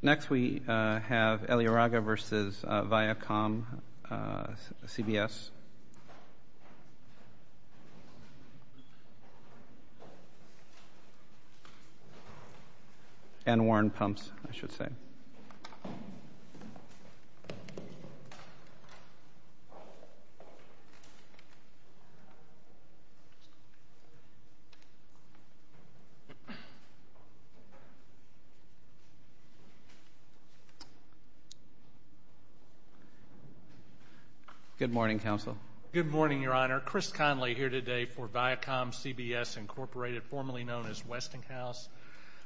Next, we have Elorreaga v. ViacomCBS and Warren Pumps, I should say. Good morning, counsel. Good morning, Your Honor. Chris Conley here today for ViacomCBS Inc., formerly known as Westinghouse.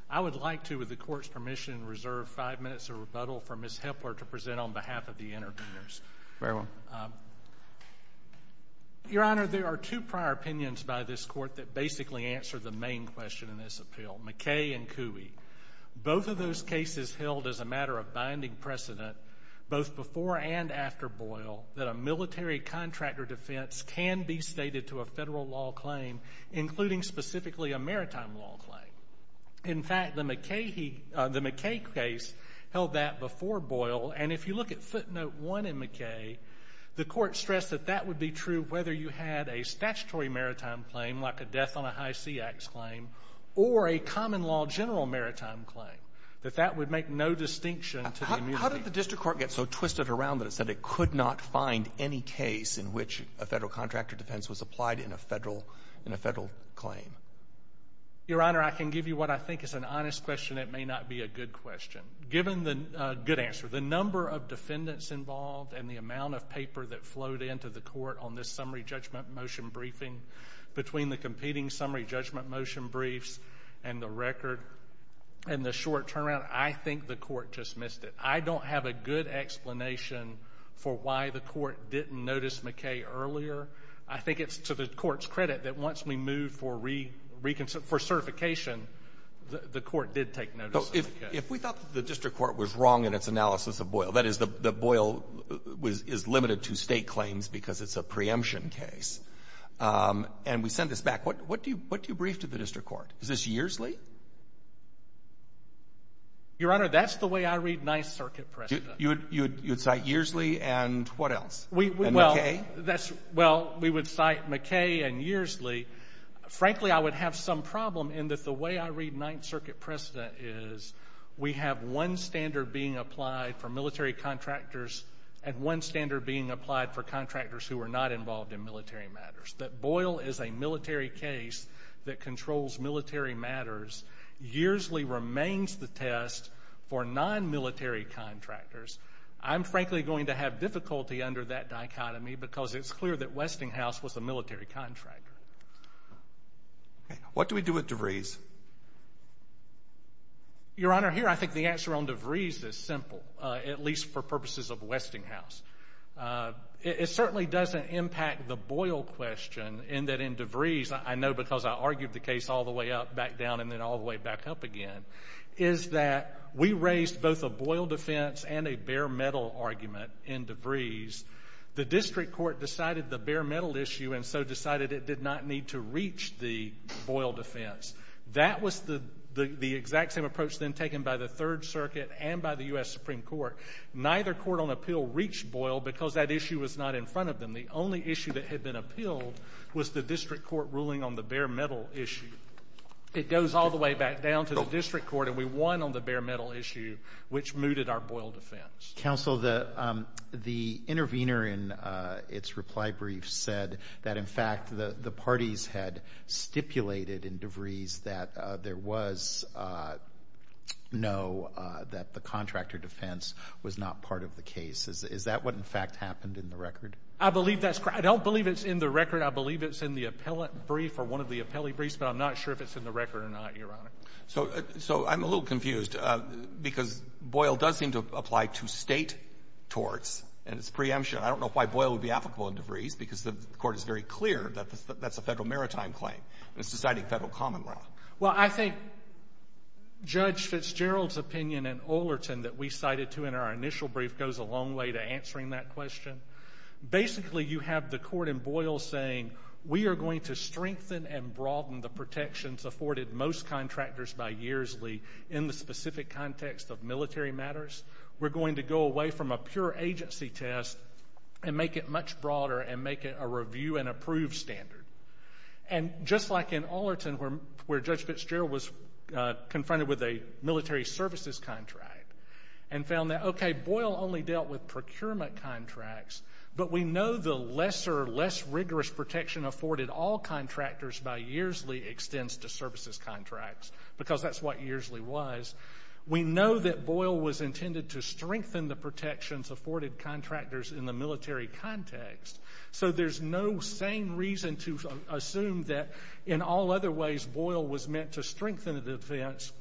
I would like to, with the Court's permission, reserve 5 minutes of rebuttal for Ms. Hepler to present on behalf of the intervenors. Very well. Your Honor, there are two prior opinions by this Court that basically answer the main question in this appeal, McKay and Cooey. Both of those cases held as a matter of binding precedent, both before and after Boyle, that a military contractor defense can be stated to a Federal law claim, including specifically a Maritime law claim. In fact, the McKay case held that before Boyle, and if you look at footnote 1 in McKay, the Court stressed that that would be true whether you had a statutory Maritime claim, like a death on a high sea axe claim, or a common law general Maritime claim, that that would make no distinction to the immunity. How did the District Court get so twisted around that it said it could not find any case in which a Federal contractor defense was applied in a Federal claim? Your Honor, I can give you what I think is an honest question. It may not be a good question. Given the—good answer—the number of defendants involved and the amount of paper that flowed into the Court on this summary judgment motion briefing, between the competing summary judgment motion briefs and the record, and the short turnaround, I think the Court just missed it. I don't have a good explanation for why the Court didn't notice McKay earlier. I think it's to the Court's credit that once we moved for certification, the Court did take notice of McKay. If we thought the District Court was wrong in its analysis of Boyle—that is, that Boyle is limited to State claims because it's a preemption case—and we send this back, what do you brief to the District Court? Is this years late? Your Honor, that's the way I read Ninth Circuit precedent. You would cite Yearsley and what else? McKay? Well, we would cite McKay and Yearsley. Frankly, I would have some problem in that the way I read Ninth Circuit precedent is we have one standard being applied for military contractors and one standard being applied for contractors who are not involved in military matters, that Boyle is a military case that controls military matters. Yearsley remains the test for non-military contractors. I'm frankly going to have difficulty under that dichotomy because it's clear that Westinghouse was a military contractor. What do we do with DeVries? Your Honor, here I think the answer on DeVries is simple, at least for purposes of Westinghouse. It certainly doesn't impact the Boyle question in that in DeVries, I know because I argued the case all the way up, back down, and then all the way back up again, is that we raised both a Boyle defense and a bare metal argument in DeVries. The District Court decided the bare metal issue and so decided it did not need to reach the Boyle defense. That was the exact same approach then taken by the Third Circuit and by the U.S. Supreme Court. Neither court on appeal reached Boyle because that issue was not in front of them. The only issue that had been appealed was the District Court ruling on the bare metal issue. It goes all the way back down to the District Court and we won on the bare metal issue, which mooted our Boyle defense. Counsel, the intervener in its reply brief said that in fact the parties had stipulated in DeVries that there was no, that the contractor defense was not part of the case. Is that what in fact happened in the record? I believe that's correct. I don't believe it's in the record. I believe it's in the appellate brief or one of the appellee briefs, but I'm not sure if it's in the record or not, Your Honor. So I'm a little confused because Boyle does seem to apply to state torts and it's preemption. I don't know why Boyle would be applicable in DeVries because the court is very clear that that's a federal maritime claim and it's deciding federal common law. Well, I think Judge Fitzgerald's opinion in Olerton that we cited too in our initial brief goes a long way to answering that question. Basically you have the court in Boyle saying we are going to strengthen and broaden the protections afforded most contractors by yearsly in the specific context of military matters. We're going to go away from a pure agency test and make it much broader and make it a review and approve standard. And just like in Olerton where Judge Fitzgerald was confronted with a military services contract and found that, okay, Boyle only dealt with procurement contracts, but we know the lesser, less rigorous protection afforded all contractors by yearsly extends to services contracts because that's what yearsly was. We know that Boyle was intended to strengthen the protections afforded contractors in the military context. So there's no sane reason to assume that in all other ways Boyle was meant to strengthen the defense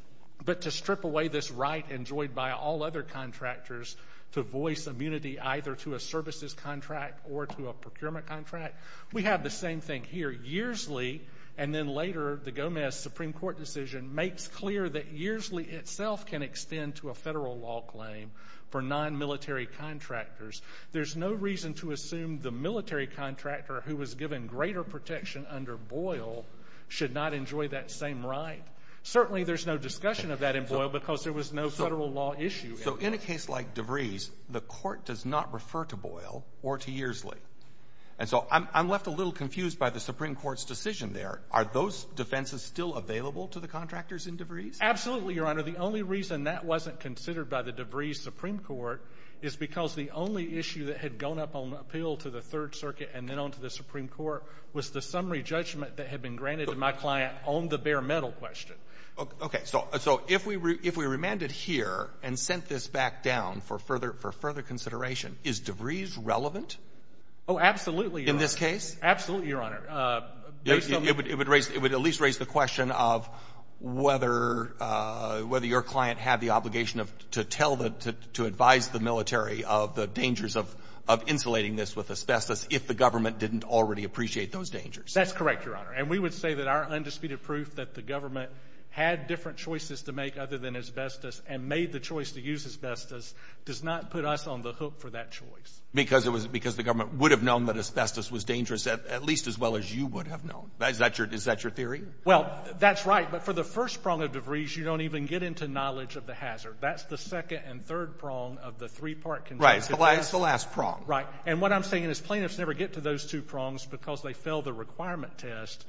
but to strip away this right enjoyed by all other contractors to voice immunity either to a services contract or to a procurement contract. We have the same thing here. Yearsly and then later the Gomez Supreme Court decision makes clear that yearsly itself can extend to a federal law claim for non-military contractors. There's no reason to assume the military contractor who was given greater protection under Boyle should not enjoy that same right. Certainly there's no discussion of that in Boyle because there was no federal law issue. So in a case like DeVries, the court does not refer to Boyle or to yearsly. And so I'm left a little confused by the Supreme Court's decision there. Are those defenses still available to the contractors in DeVries? Absolutely, Your Honor. The only reason that wasn't considered by the DeVries Supreme Court is because the only issue that had gone up on appeal to the Third Circuit and then on to the Supreme Court was the summary judgment that had been granted to my client on the bare metal question. So if we remanded here and sent this back down for further consideration, is DeVries relevant? Oh, absolutely, Your Honor. In this case? Absolutely, Your Honor. It would at least raise the question of whether your client had the obligation to tell the to advise the military of the dangers of insulating this with asbestos if the government didn't already appreciate those dangers. That's correct, Your Honor. And we would say that our undisputed proof that the government had different choices to make other than asbestos and made the choice to use asbestos does not put us on the hook for that choice. Because the government would have known that asbestos was dangerous at least as well as you would have known. Is that your theory? Well, that's right. But for the first prong of DeVries, you don't even get into knowledge of the hazard. That's the second and third prong of the three-part consensus. Right. It's the last prong. Right. And what I'm saying is plaintiffs never get to those two prongs because they fail the requirement test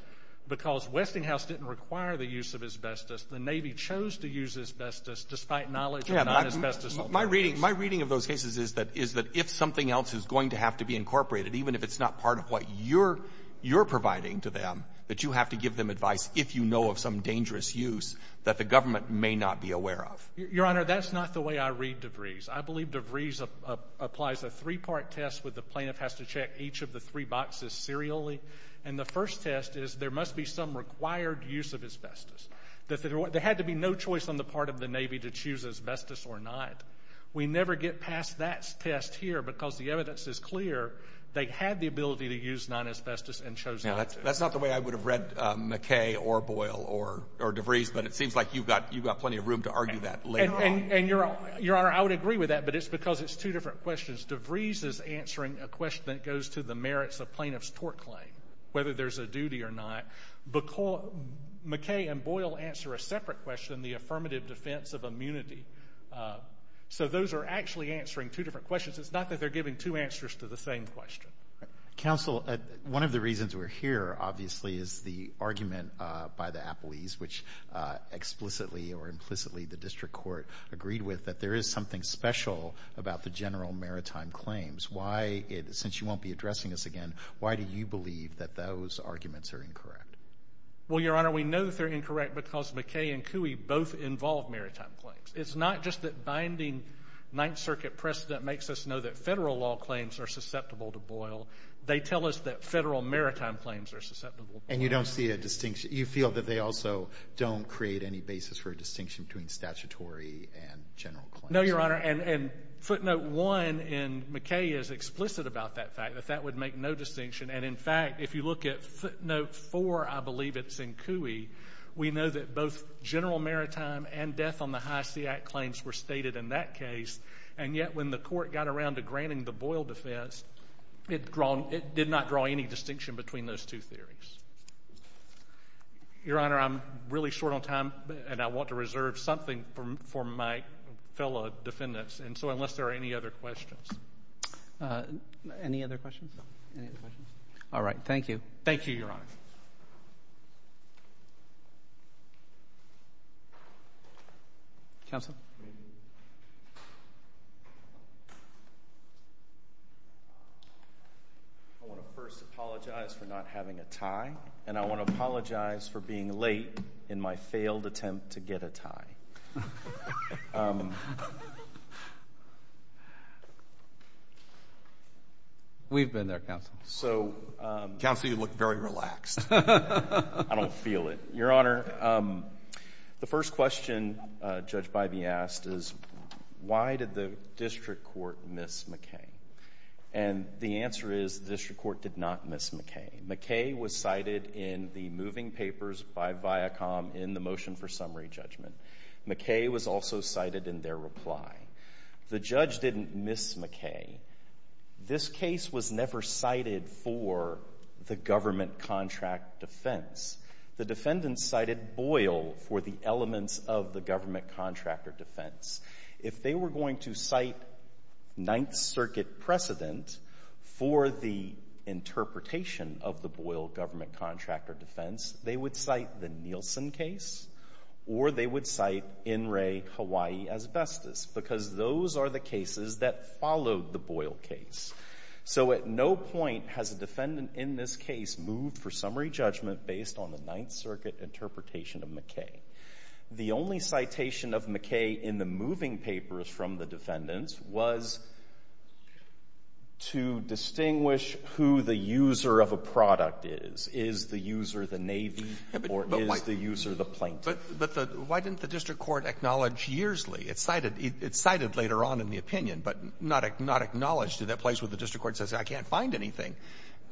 because Westinghouse didn't require the use of asbestos. The Navy chose to use asbestos despite knowledge of non-asbestos alternatives. My reading of those cases is that if something else is going to have to be incorporated, even if it's not part of what you're providing to them, that you have to give them advice if you know of some dangerous use that the government may not be aware of. Your Honor, that's not the way I read DeVries. I believe DeVries applies a three-part test where the plaintiff has to check each of the three boxes serially. And the first test is there must be some required use of asbestos. There had to be no choice on the part of the Navy to choose asbestos or not. We never get past that test here because the evidence is clear they had the ability to use non-asbestos and chose not to. That's not the way I would have read McKay or Boyle or DeVries, but it seems like you've got plenty of room to argue that later on. And, Your Honor, I would agree with that, but it's because it's two different questions. DeVries is answering a question that goes to the merits of plaintiff's tort claim, whether there's a duty or not. McKay and Boyle answer a separate question, the affirmative defense of immunity. So those are actually answering two different questions. It's not that they're giving two answers to the same question. Counsel, one of the reasons we're here, obviously, is the argument by the Appleys, which explicitly or implicitly the district court agreed with, that there is something special about the general maritime claims. Why, since you won't be addressing this again, why do you believe that those arguments are incorrect? Well, Your Honor, we know they're incorrect because McKay and Cooey both involve maritime claims. It's not just that binding Ninth Circuit precedent makes us know that federal law claims are susceptible to Boyle. They tell us that federal maritime claims are susceptible to Boyle. And you don't see a distinction. You feel that they also don't create any basis for a distinction between statutory and general claims. No, Your Honor, and footnote one in McKay is explicit about that fact, that that would make no distinction. And, in fact, if you look at footnote four, I believe it's in Cooey, we know that both general maritime and death on the High Seat claims were stated in that case. And yet when the court got around to granting the Boyle defense, it did not draw any distinction between those two theories. Your Honor, I'm really short on time, and I want to reserve something for my fellow defendants. And so, unless there are any other questions. Any other questions? All right. Thank you. Thank you, Your Honor. Counsel? I want to first apologize for not having a tie, and I want to apologize for being late in my failed attempt to get a tie. We've been there, Counsel. Counsel, you look very relaxed. I don't feel it. Your Honor, the first question Judge Bybee asked is why did the district court miss McKay? And the answer is the district court did not miss McKay. McKay was cited in the moving papers by Viacom in the motion for summary judgment. McKay was also cited in their reply. The judge didn't miss McKay. This case was never cited for the government contract defense. The defendants cited Boyle for the elements of the government contractor defense. If they were going to cite Ninth Circuit precedent for the interpretation of the Boyle government contractor defense, they would cite the Nielsen case, or they would cite In re Hawaii asbestos, because those are the cases that followed the Boyle case. So at no point has a defendant in this case moved for summary judgment based on the Ninth Circuit interpretation of McKay. The only citation of McKay in the moving papers from the defendants was to distinguish who the user of a product is. Is the user the Navy, or is the user the plaintiff? Why didn't the district court acknowledge Yearsley? It's cited later on in the opinion, but not acknowledged in that place where the district court says, I can't find anything.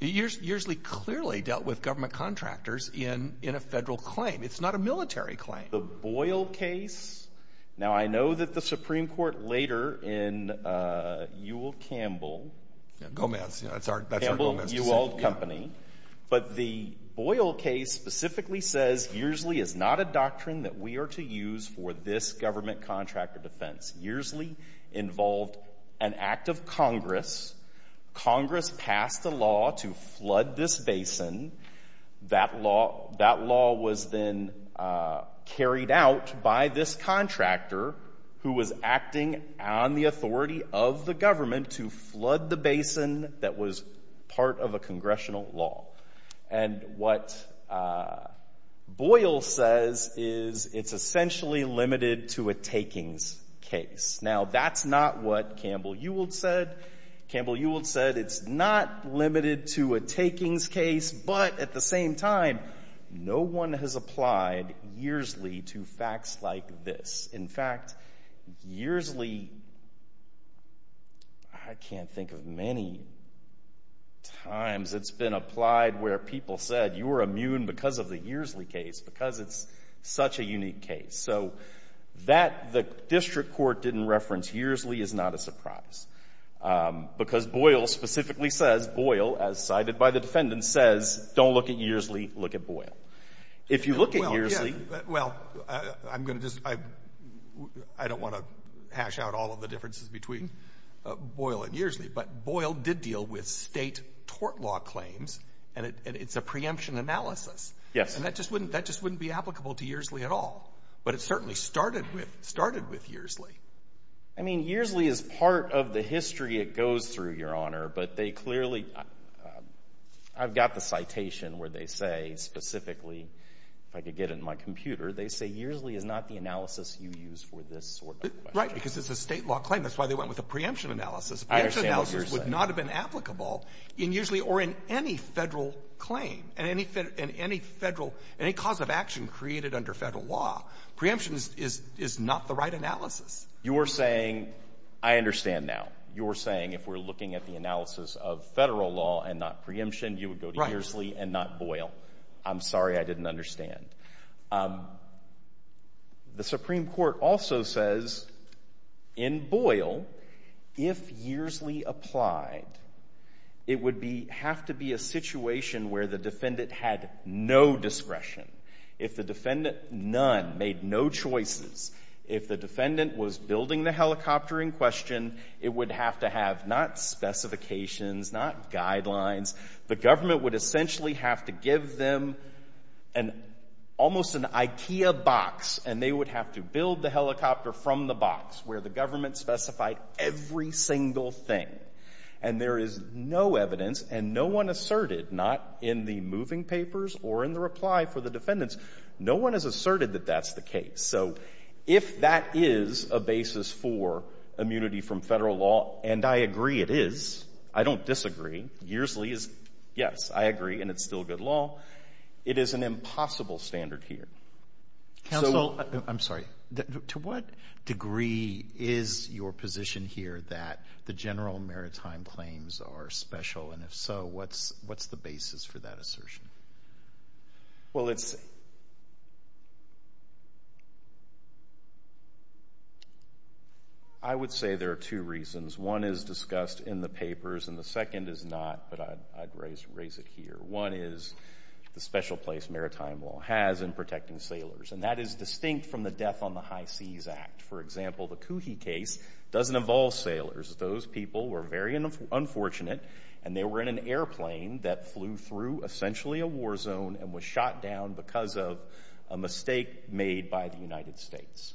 Yearsley clearly dealt with government contractors in a federal claim. It's not a military claim. The Boyle case, now I know that the Supreme Court later in Ewell Campbell, but the Boyle case specifically says Yearsley is not a doctrine that we are to use for this government contractor defense. Yearsley involved an act of Congress. Congress passed a law to flood this basin. That law was then carried out by this contractor who was acting on the authority of the government to flood the basin that was part of a congressional law. What Boyle says is it's essentially limited to a takings case. Now that's not what Campbell Ewell said. Campbell Ewell said it's not limited to a takings case, but at the same time, no one has applied Yearsley to facts like this. In fact, Yearsley, I can't think of many times it's been applied where people said you are immune because of the Yearsley case because it's such a unique case. So that the district court didn't reference Yearsley is not a surprise because Boyle specifically says Boyle, as cited by the defendant, says don't look at Yearsley, look at Boyle. If you look at Yearsley... Well, I'm going to just... I don't want to hash out all of the differences between Boyle and Yearsley, but Boyle did deal with state tort law claims and it's a preemption analysis. Yes. And that just wouldn't be applicable to Yearsley at all, but it certainly started with Yearsley. I mean, Yearsley is part of the history it goes through, Your Honor, but they clearly... I've got the citation where they say specifically, if I could get it in my computer, they say Yearsley is not the analysis you use for this sort of question. Right, because it's a state law claim. That's why they went with a preemption analysis. I understand what you're saying. Preemption analysis would not have been applicable in Yearsley or in any federal claim, in any federal, any cause of action created under federal law. Preemption is not the right analysis. You're saying, I understand now, you're saying if we're looking at the analysis of federal law and not preemption, you would go to Yearsley and not Boyle. I'm sorry, I didn't understand. The Supreme Court also says in Boyle, if Yearsley applied, it would have to be a situation where the defendant had no discretion. If the defendant, none, made no choices, if the defendant was building the helicopter in question, it would have to have not specifications, not guidelines, the government would essentially have to give them an, almost an Ikea box and they would have to build the helicopter from the box where the government specified every single thing. And there is no evidence and no one asserted, not in the moving papers or in the reply for the defendants, no one has asserted that that's the case. So if that is a basis for immunity from federal law, and I agree it is, I don't disagree, Yearsley is, yes, I agree, and it's still good law, it is an impossible standard here. Counsel, I'm sorry, to what degree is your position here that the general maritime claims are special and if so, what's the basis for that assertion? Well, it's, I would say there are two reasons. One is discussed in the papers and the second is not, but I'd raise it here. One is the special place maritime law has in protecting sailors and that is distinct from the Death on the High Seas Act. For example, the Coohee case doesn't involve sailors. Those people were very unfortunate and they were in an airplane that flew through essentially a war zone and was shot down because of a mistake made by the United States.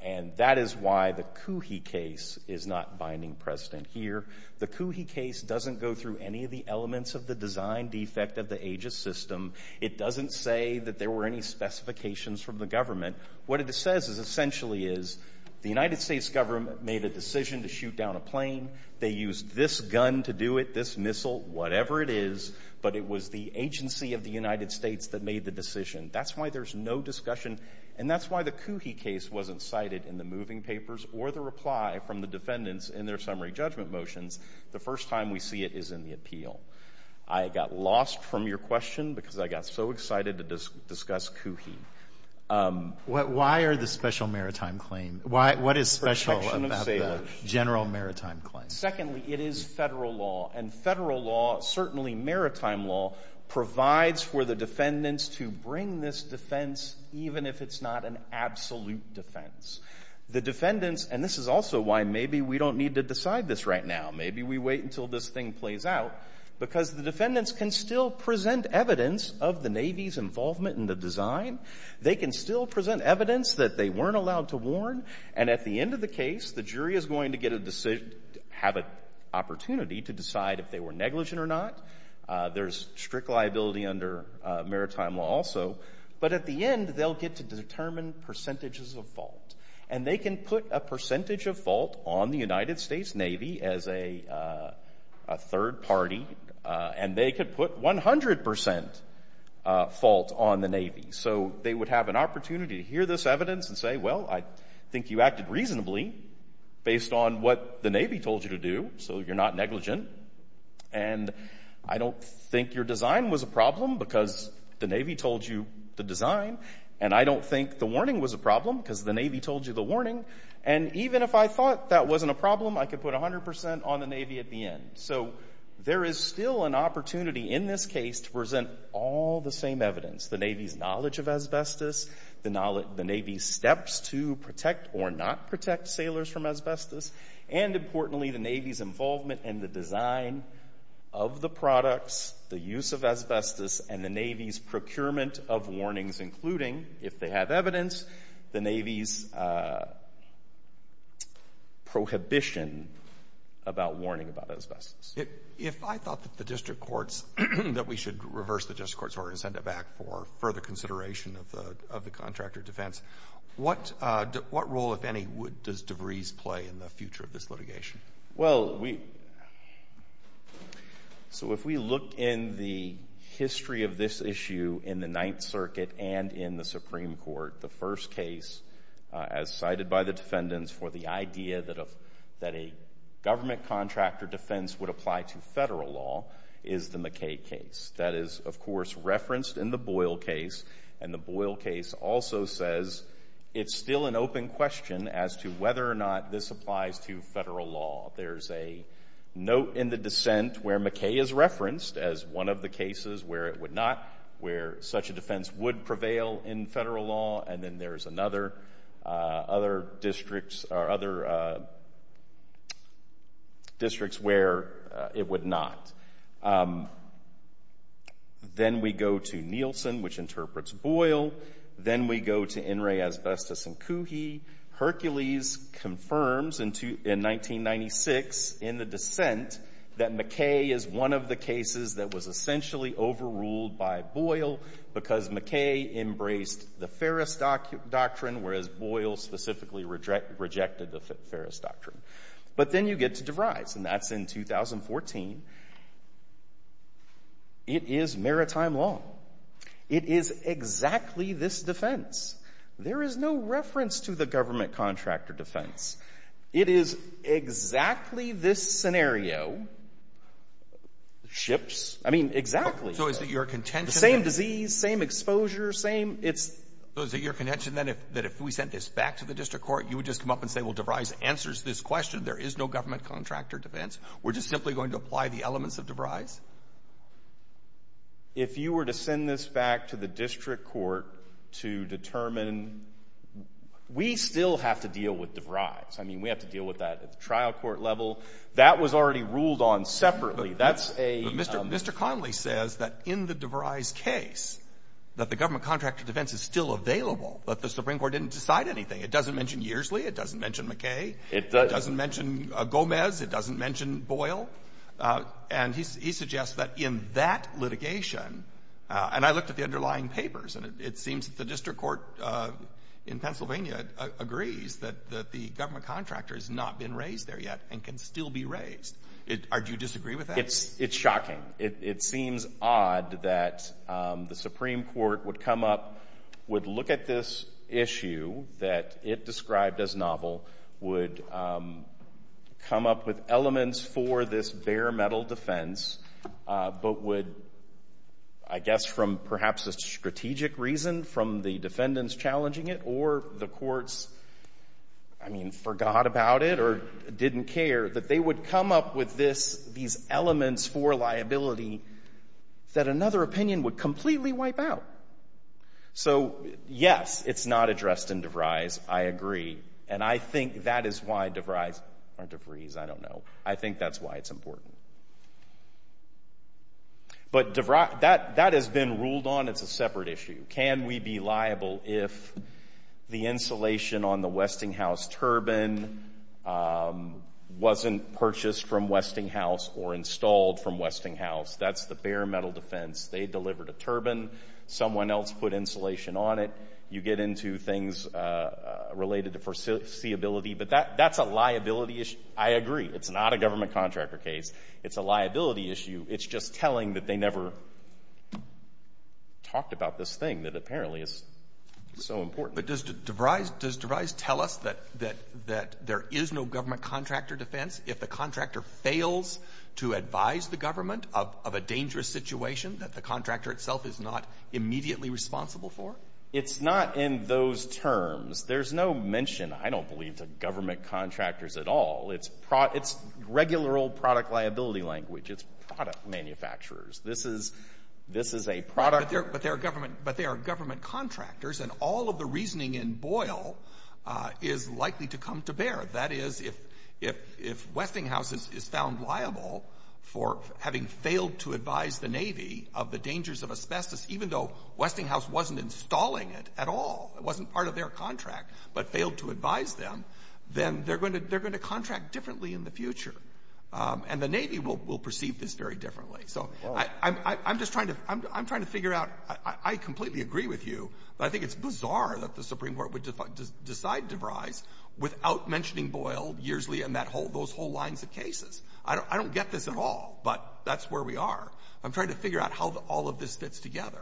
And that is why the Coohee case is not binding precedent here. The Coohee case doesn't go through any of the elements of the design defect of the Aegis system. It doesn't say that there were any specifications from the government. What it says is essentially is the United States government made a decision to shoot down a plane. They used this gun to do it, this missile, whatever it is, but it was the agency of the United States that made the decision. That's why there's no discussion. And that's why the Coohee case wasn't cited in the moving papers or the reply from the defendants in their summary judgment motions. The first time we see it is in the appeal. I got lost from your question because I got so excited to discuss Coohee. Why are the special maritime claim? What is special about the general maritime claim? Secondly, it is federal law. And federal law, certainly maritime law, provides for the defendants to bring this defense even if it's not an absolute defense. The defendants, and this is also why maybe we don't need to decide this right now. Maybe we wait until this thing plays out because the defendants can still present evidence of the Navy's involvement in the design. They can still present evidence that they weren't allowed to warn. And at the end of the case, the jury is going to get a decision, have an opportunity to decide if they were negligent or not. There's strict liability under maritime law also. But at the end, they'll get to determine percentages of fault. And they can put a percentage of fault on the United States Navy as a third party. And they could put 100% fault on the Navy. So they would have an opportunity to hear this evidence and say, well, I think you acted reasonably based on what the Navy told you to do. So you're not negligent. And I don't think your design was a problem because the Navy told you the design. And I don't think the warning was a problem because the Navy told you the warning. And even if I thought that wasn't a problem, I could put 100% on the Navy at the end. So there is still an opportunity in this case to present all the same evidence. The Navy's knowledge of asbestos, the Navy's steps to protect or not protect sailors from asbestos, and importantly, the Navy's involvement in the design of the products, the use of asbestos, and the Navy's procurement of warnings, including, if they have evidence, the Navy's prohibition about warning about asbestos. If I thought that the district courts, that we should reverse the district court's order and send it back for further consideration of the contractor defense, what role, if any, does DeVries play in the future of this litigation? Well, so if we look in the history of this issue in the Ninth Circuit and in the Supreme Court, the first case, as cited by the defendants, for the idea that a government contractor defense would apply to federal law is the McKay case. That is, of course, referenced in the Boyle case, and the Boyle case also says it's still an open question as to whether or not this applies to federal law. There's a note in the dissent where McKay is referenced as one of the cases where it would not, where such a defense would prevail in federal law, and then there's another, other districts, or other districts where it would not. Then we go to Nielsen, which interprets Boyle. Then we go to In re Asbestos and Coohee. Hercules confirms in 1996, in the dissent, that McKay is one of the cases that was essentially overruled by Boyle because McKay embraced the Ferris Doctrine, whereas Boyle specifically rejected the Ferris Doctrine. But then you get to DeVries, and that's in 2014. It is maritime law. It is exactly this defense. There is no reference to the government contractor defense. It is exactly this scenario, ships, I mean, exactly the same disease, same exposure, same it's. So is it your contention then that if we sent this back to the district court, you would just come up and say, well, DeVries answers this question, there is no government contractor defense. We're just simply going to apply the elements of DeVries? If you were to send this back to the district court to determine, we still have to deal with DeVries. I mean, we have to deal with that at the trial court level. That was already ruled on separately. That's a Mr. Connolly says that in the DeVries case, that the government contractor defense is still available, but the Supreme Court didn't decide anything. It doesn't mention Yearsley. It doesn't mention McKay. It doesn't It doesn't mention Gomez. It doesn't mention Boyle. And he suggests that in that litigation, and I looked at the underlying papers, and it seems that the district court in Pennsylvania agrees that the government contractor has not been raised there yet and can still be raised. Do you disagree with that? It's shocking. It seems odd that the Supreme Court would come up, would look at this issue that it described as novel, would come up with elements for this bare metal defense, but would, I guess from perhaps a strategic reason, from the defendants challenging it, or the courts, I mean, forgot about it or didn't care, that they would come up with this, these elements for liability that another opinion would completely wipe out. So yes, it's not addressed in DeVries. I agree. And I think that is why DeVries, or DeVries, I don't know, I think that's why it's important. But DeVries, that has been ruled on. It's a separate issue. Can we be liable if the insulation on the Westinghouse turbine wasn't purchased from Westinghouse or installed from Westinghouse? That's the bare metal defense. They delivered a turbine. Someone else put insulation on it. You get into things related to foreseeability, but that's a liability issue. I agree. It's not a government contractor case. It's a liability issue. It's just telling that they never talked about this thing that apparently is so important. But does DeVries tell us that there is no government contractor defense if the contractor fails to advise the government of a dangerous situation that the contractor itself is not immediately responsible for? It's not in those terms. There's no mention, I don't believe, to government contractors at all. It's regular old product liability language. It's product manufacturers. This is a product... But they are government contractors, and all of the reasoning in Boyle is likely to come to bear. That is, if Westinghouse is found liable for having failed to advise the Navy of the dangers of asbestos, even though Westinghouse wasn't installing it at all, it wasn't part of their contract but failed to advise them, then they're going to contract differently in the future. And the Navy will perceive this very differently. So I'm just trying to figure out... I completely agree with you, but I think it's bizarre that the Supreme Court would decide DeVries without mentioning Boyle, Yearsley, and those whole lines of cases. I don't get this at all, but that's where we are. I'm trying to figure out how all of this fits together.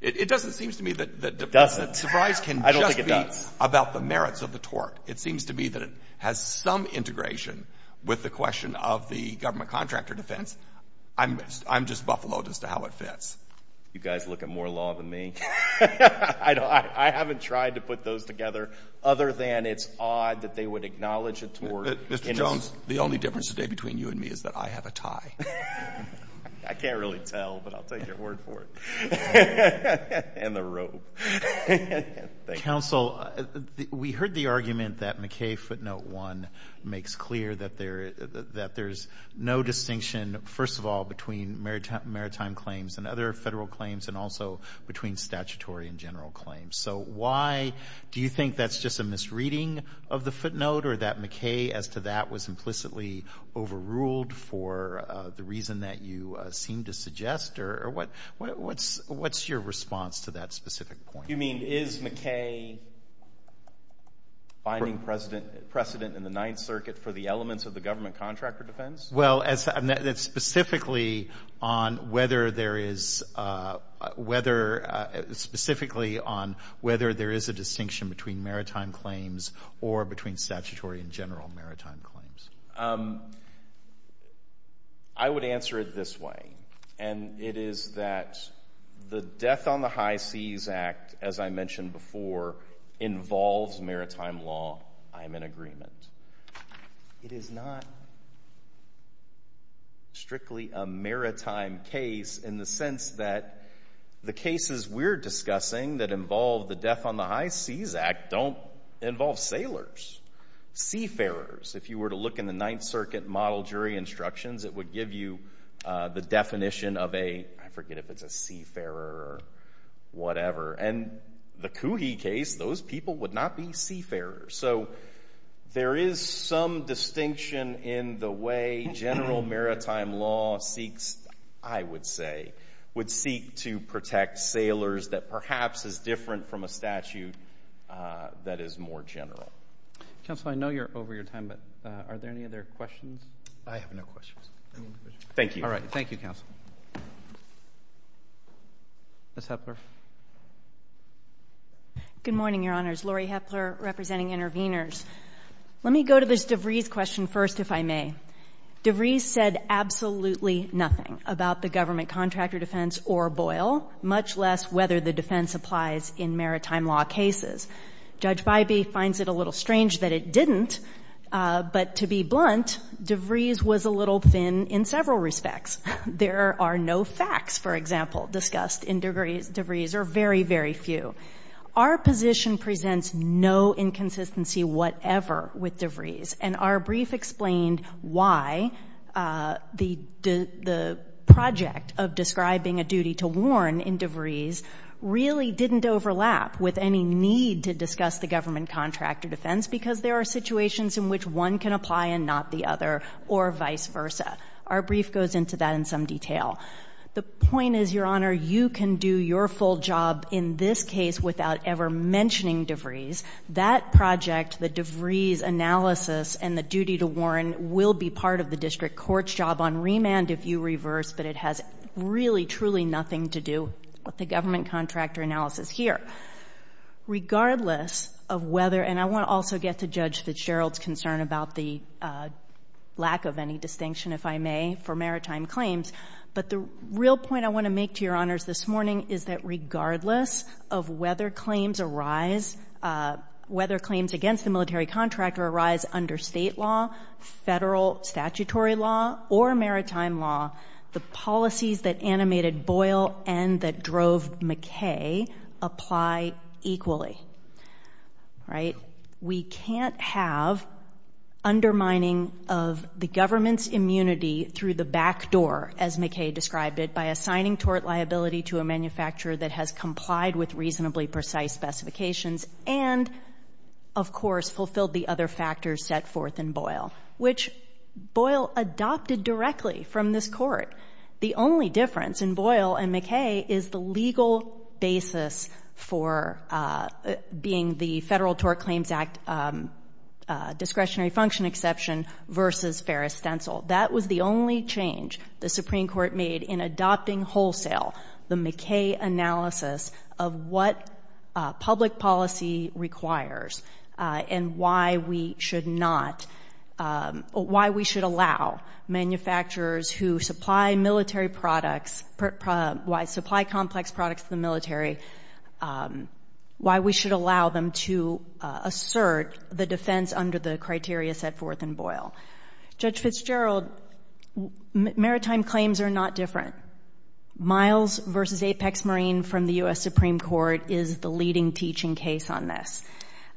It doesn't seem to me that DeVries can just be about the merits of the tort. It seems to me that it has some integration with the question of the government contractor defense. I'm just buffaloed as to how it fits. You guys look at more law than me. I haven't tried to put those together, other than it's odd that they would acknowledge a tort... I can't really tell, but I'll take your word for it. And the rope. Thank you. Counsel, we heard the argument that McKay footnote one makes clear that there's no distinction, first of all, between maritime claims and other federal claims and also between statutory and general claims. So why do you think that's just a misreading of the footnote or that McKay as to that was implicitly overruled for the reason that you seem to suggest or what's your response to that specific point? You mean, is McKay finding precedent in the Ninth Circuit for the elements of the government contractor defense? Well, that's specifically on whether there is a distinction between maritime claims or between statutory and general maritime claims. I would answer it this way, and it is that the Death on the High Seas Act, as I mentioned before, involves maritime law. I am in agreement. It is not strictly a maritime case in the sense that the cases we're discussing that involve the Death on the High Seas Act don't involve sailors, seafarers. If you were to look in the Ninth Circuit model jury instructions, it would give you the definition of a, I forget if it's a seafarer or whatever. And the Coogee case, those people would not be seafarers. So there is some distinction in the way general maritime law seeks, I would say, would seek to protect sailors that perhaps is different from a statute that is more general. Counsel, I know you're over your time, but are there any other questions? I have no questions. Thank you. All right. Thank you, Counsel. Ms. Hepler. Good morning, Your Honors. Laurie Hepler representing Intervenors. Let me go to this DeVries question first, if I may. DeVries said absolutely nothing about the government contractor defense or BOIL, much less whether the defense applies in maritime law cases. Judge Bybee finds it a little strange that it didn't, but to be blunt, DeVries was a little thin in several respects. There are no facts, for example, discussed in DeVries, or very, very few. Our position presents no inconsistency whatever with DeVries, and our brief explained why the project of describing a duty to warn in DeVries really didn't overlap with any need to discuss the government contractor defense because there are situations in which one can apply and not the other, or vice versa. Our brief goes into that in some detail. The point is, Your Honor, you can do your full job in this case without ever mentioning DeVries. That project, the DeVries analysis and the duty to warn, will be part of the district court's job on remand if you reverse, but it has really, truly nothing to do with the government contractor analysis here. Regardless of whether, and I want to also get to Judge Fitzgerald's concern about the lack of any distinction, if I may, for maritime claims, but the real point I want to make to Your Honors this morning is that regardless of whether claims arise, whether claims against the military contractor arise under state law, federal statutory law, or maritime law, the policies that animated Boyle and that drove McKay apply equally, right? We can't have undermining of the government's immunity through the backdoor, as McKay described it, by assigning tort liability to a manufacturer that has complied with reasonably precise specifications and, of course, fulfilled the other factors set forth in Boyle, which Boyle adopted directly from this court. The only difference in Boyle and McKay is the legal basis for being the Federal Tort Claims Act discretionary function exception versus Ferris Stencil. That was the only change the Supreme Court made in adopting wholesale, the McKay analysis of what public policy requires and why we should not, why we should allow manufacturers who supply military products, supply complex products to the military, why we should allow them to assert the defense under the criteria set forth in Boyle. Judge Fitzgerald, maritime claims are not different. Miles versus Apex Marine from the U.S. Supreme Court is the leading teaching case on this.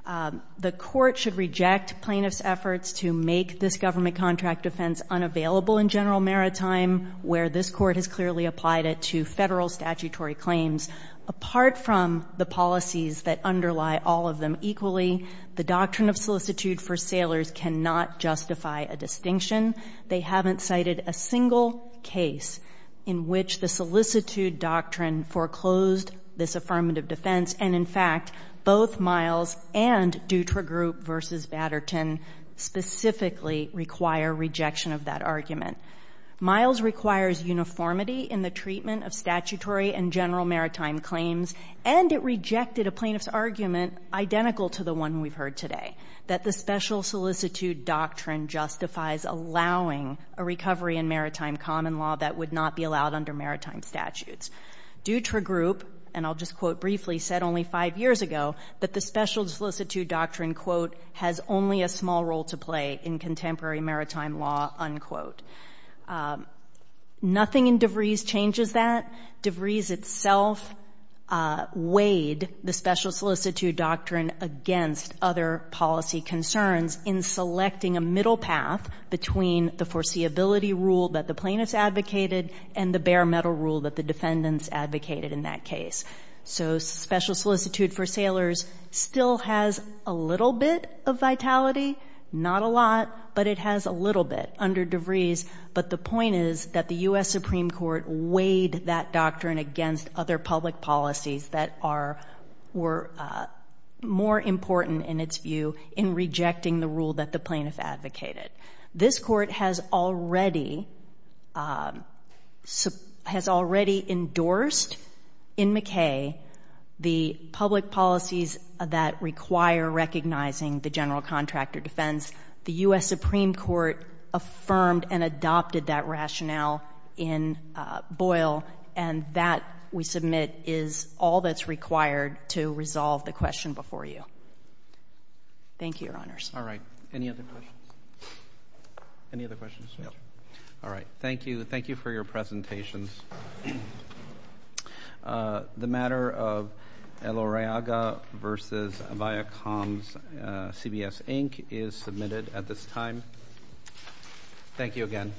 The court should reject plaintiff's efforts to make this government contract defense unavailable in general maritime where this court has clearly applied it to federal statutory claims. Apart from the policies that underlie all of them equally, the doctrine of solicitude for sailors cannot justify a distinction. They haven't cited a single case in which the solicitude doctrine foreclosed this affirmative defense and, in fact, both Miles and Dutra Group versus Vatterton specifically require rejection of that argument. Miles requires uniformity in the treatment of statutory and general maritime claims and it rejected a plaintiff's argument identical to the one we've heard today, that the special solicitude doctrine justifies allowing a recovery in maritime common law that would not be allowed under maritime statutes. Dutra Group, and I'll just quote briefly, said only five years ago that the special solicitude doctrine, quote, has only a small role to play in contemporary maritime law, unquote. Nothing in DeVries changes that. DeVries itself weighed the special solicitude doctrine against other policy concerns in selecting a middle path between the foreseeability rule that the plaintiffs advocated and the bare metal rule that the defendants advocated in that case. So special solicitude for sailors still has a little bit of vitality, not a lot, but it has a little bit under DeVries. But the point is that the U.S. Supreme Court weighed that doctrine against other public policies that were more important in its view in rejecting the rule that the plaintiff advocated. This court has already endorsed in McKay the public policies that require recognizing the general contractor defense. The U.S. Supreme Court affirmed and adopted that rationale in Boyle, and that, we submit, is all that's required to resolve the question before you. Thank you, Your Honors. All right. Any other questions? Any other questions? No. All right. Thank you. Thank you for your presentations. The matter of El Uriaga v. Viacom's CBS, Inc. is submitted at this time. Thank you again.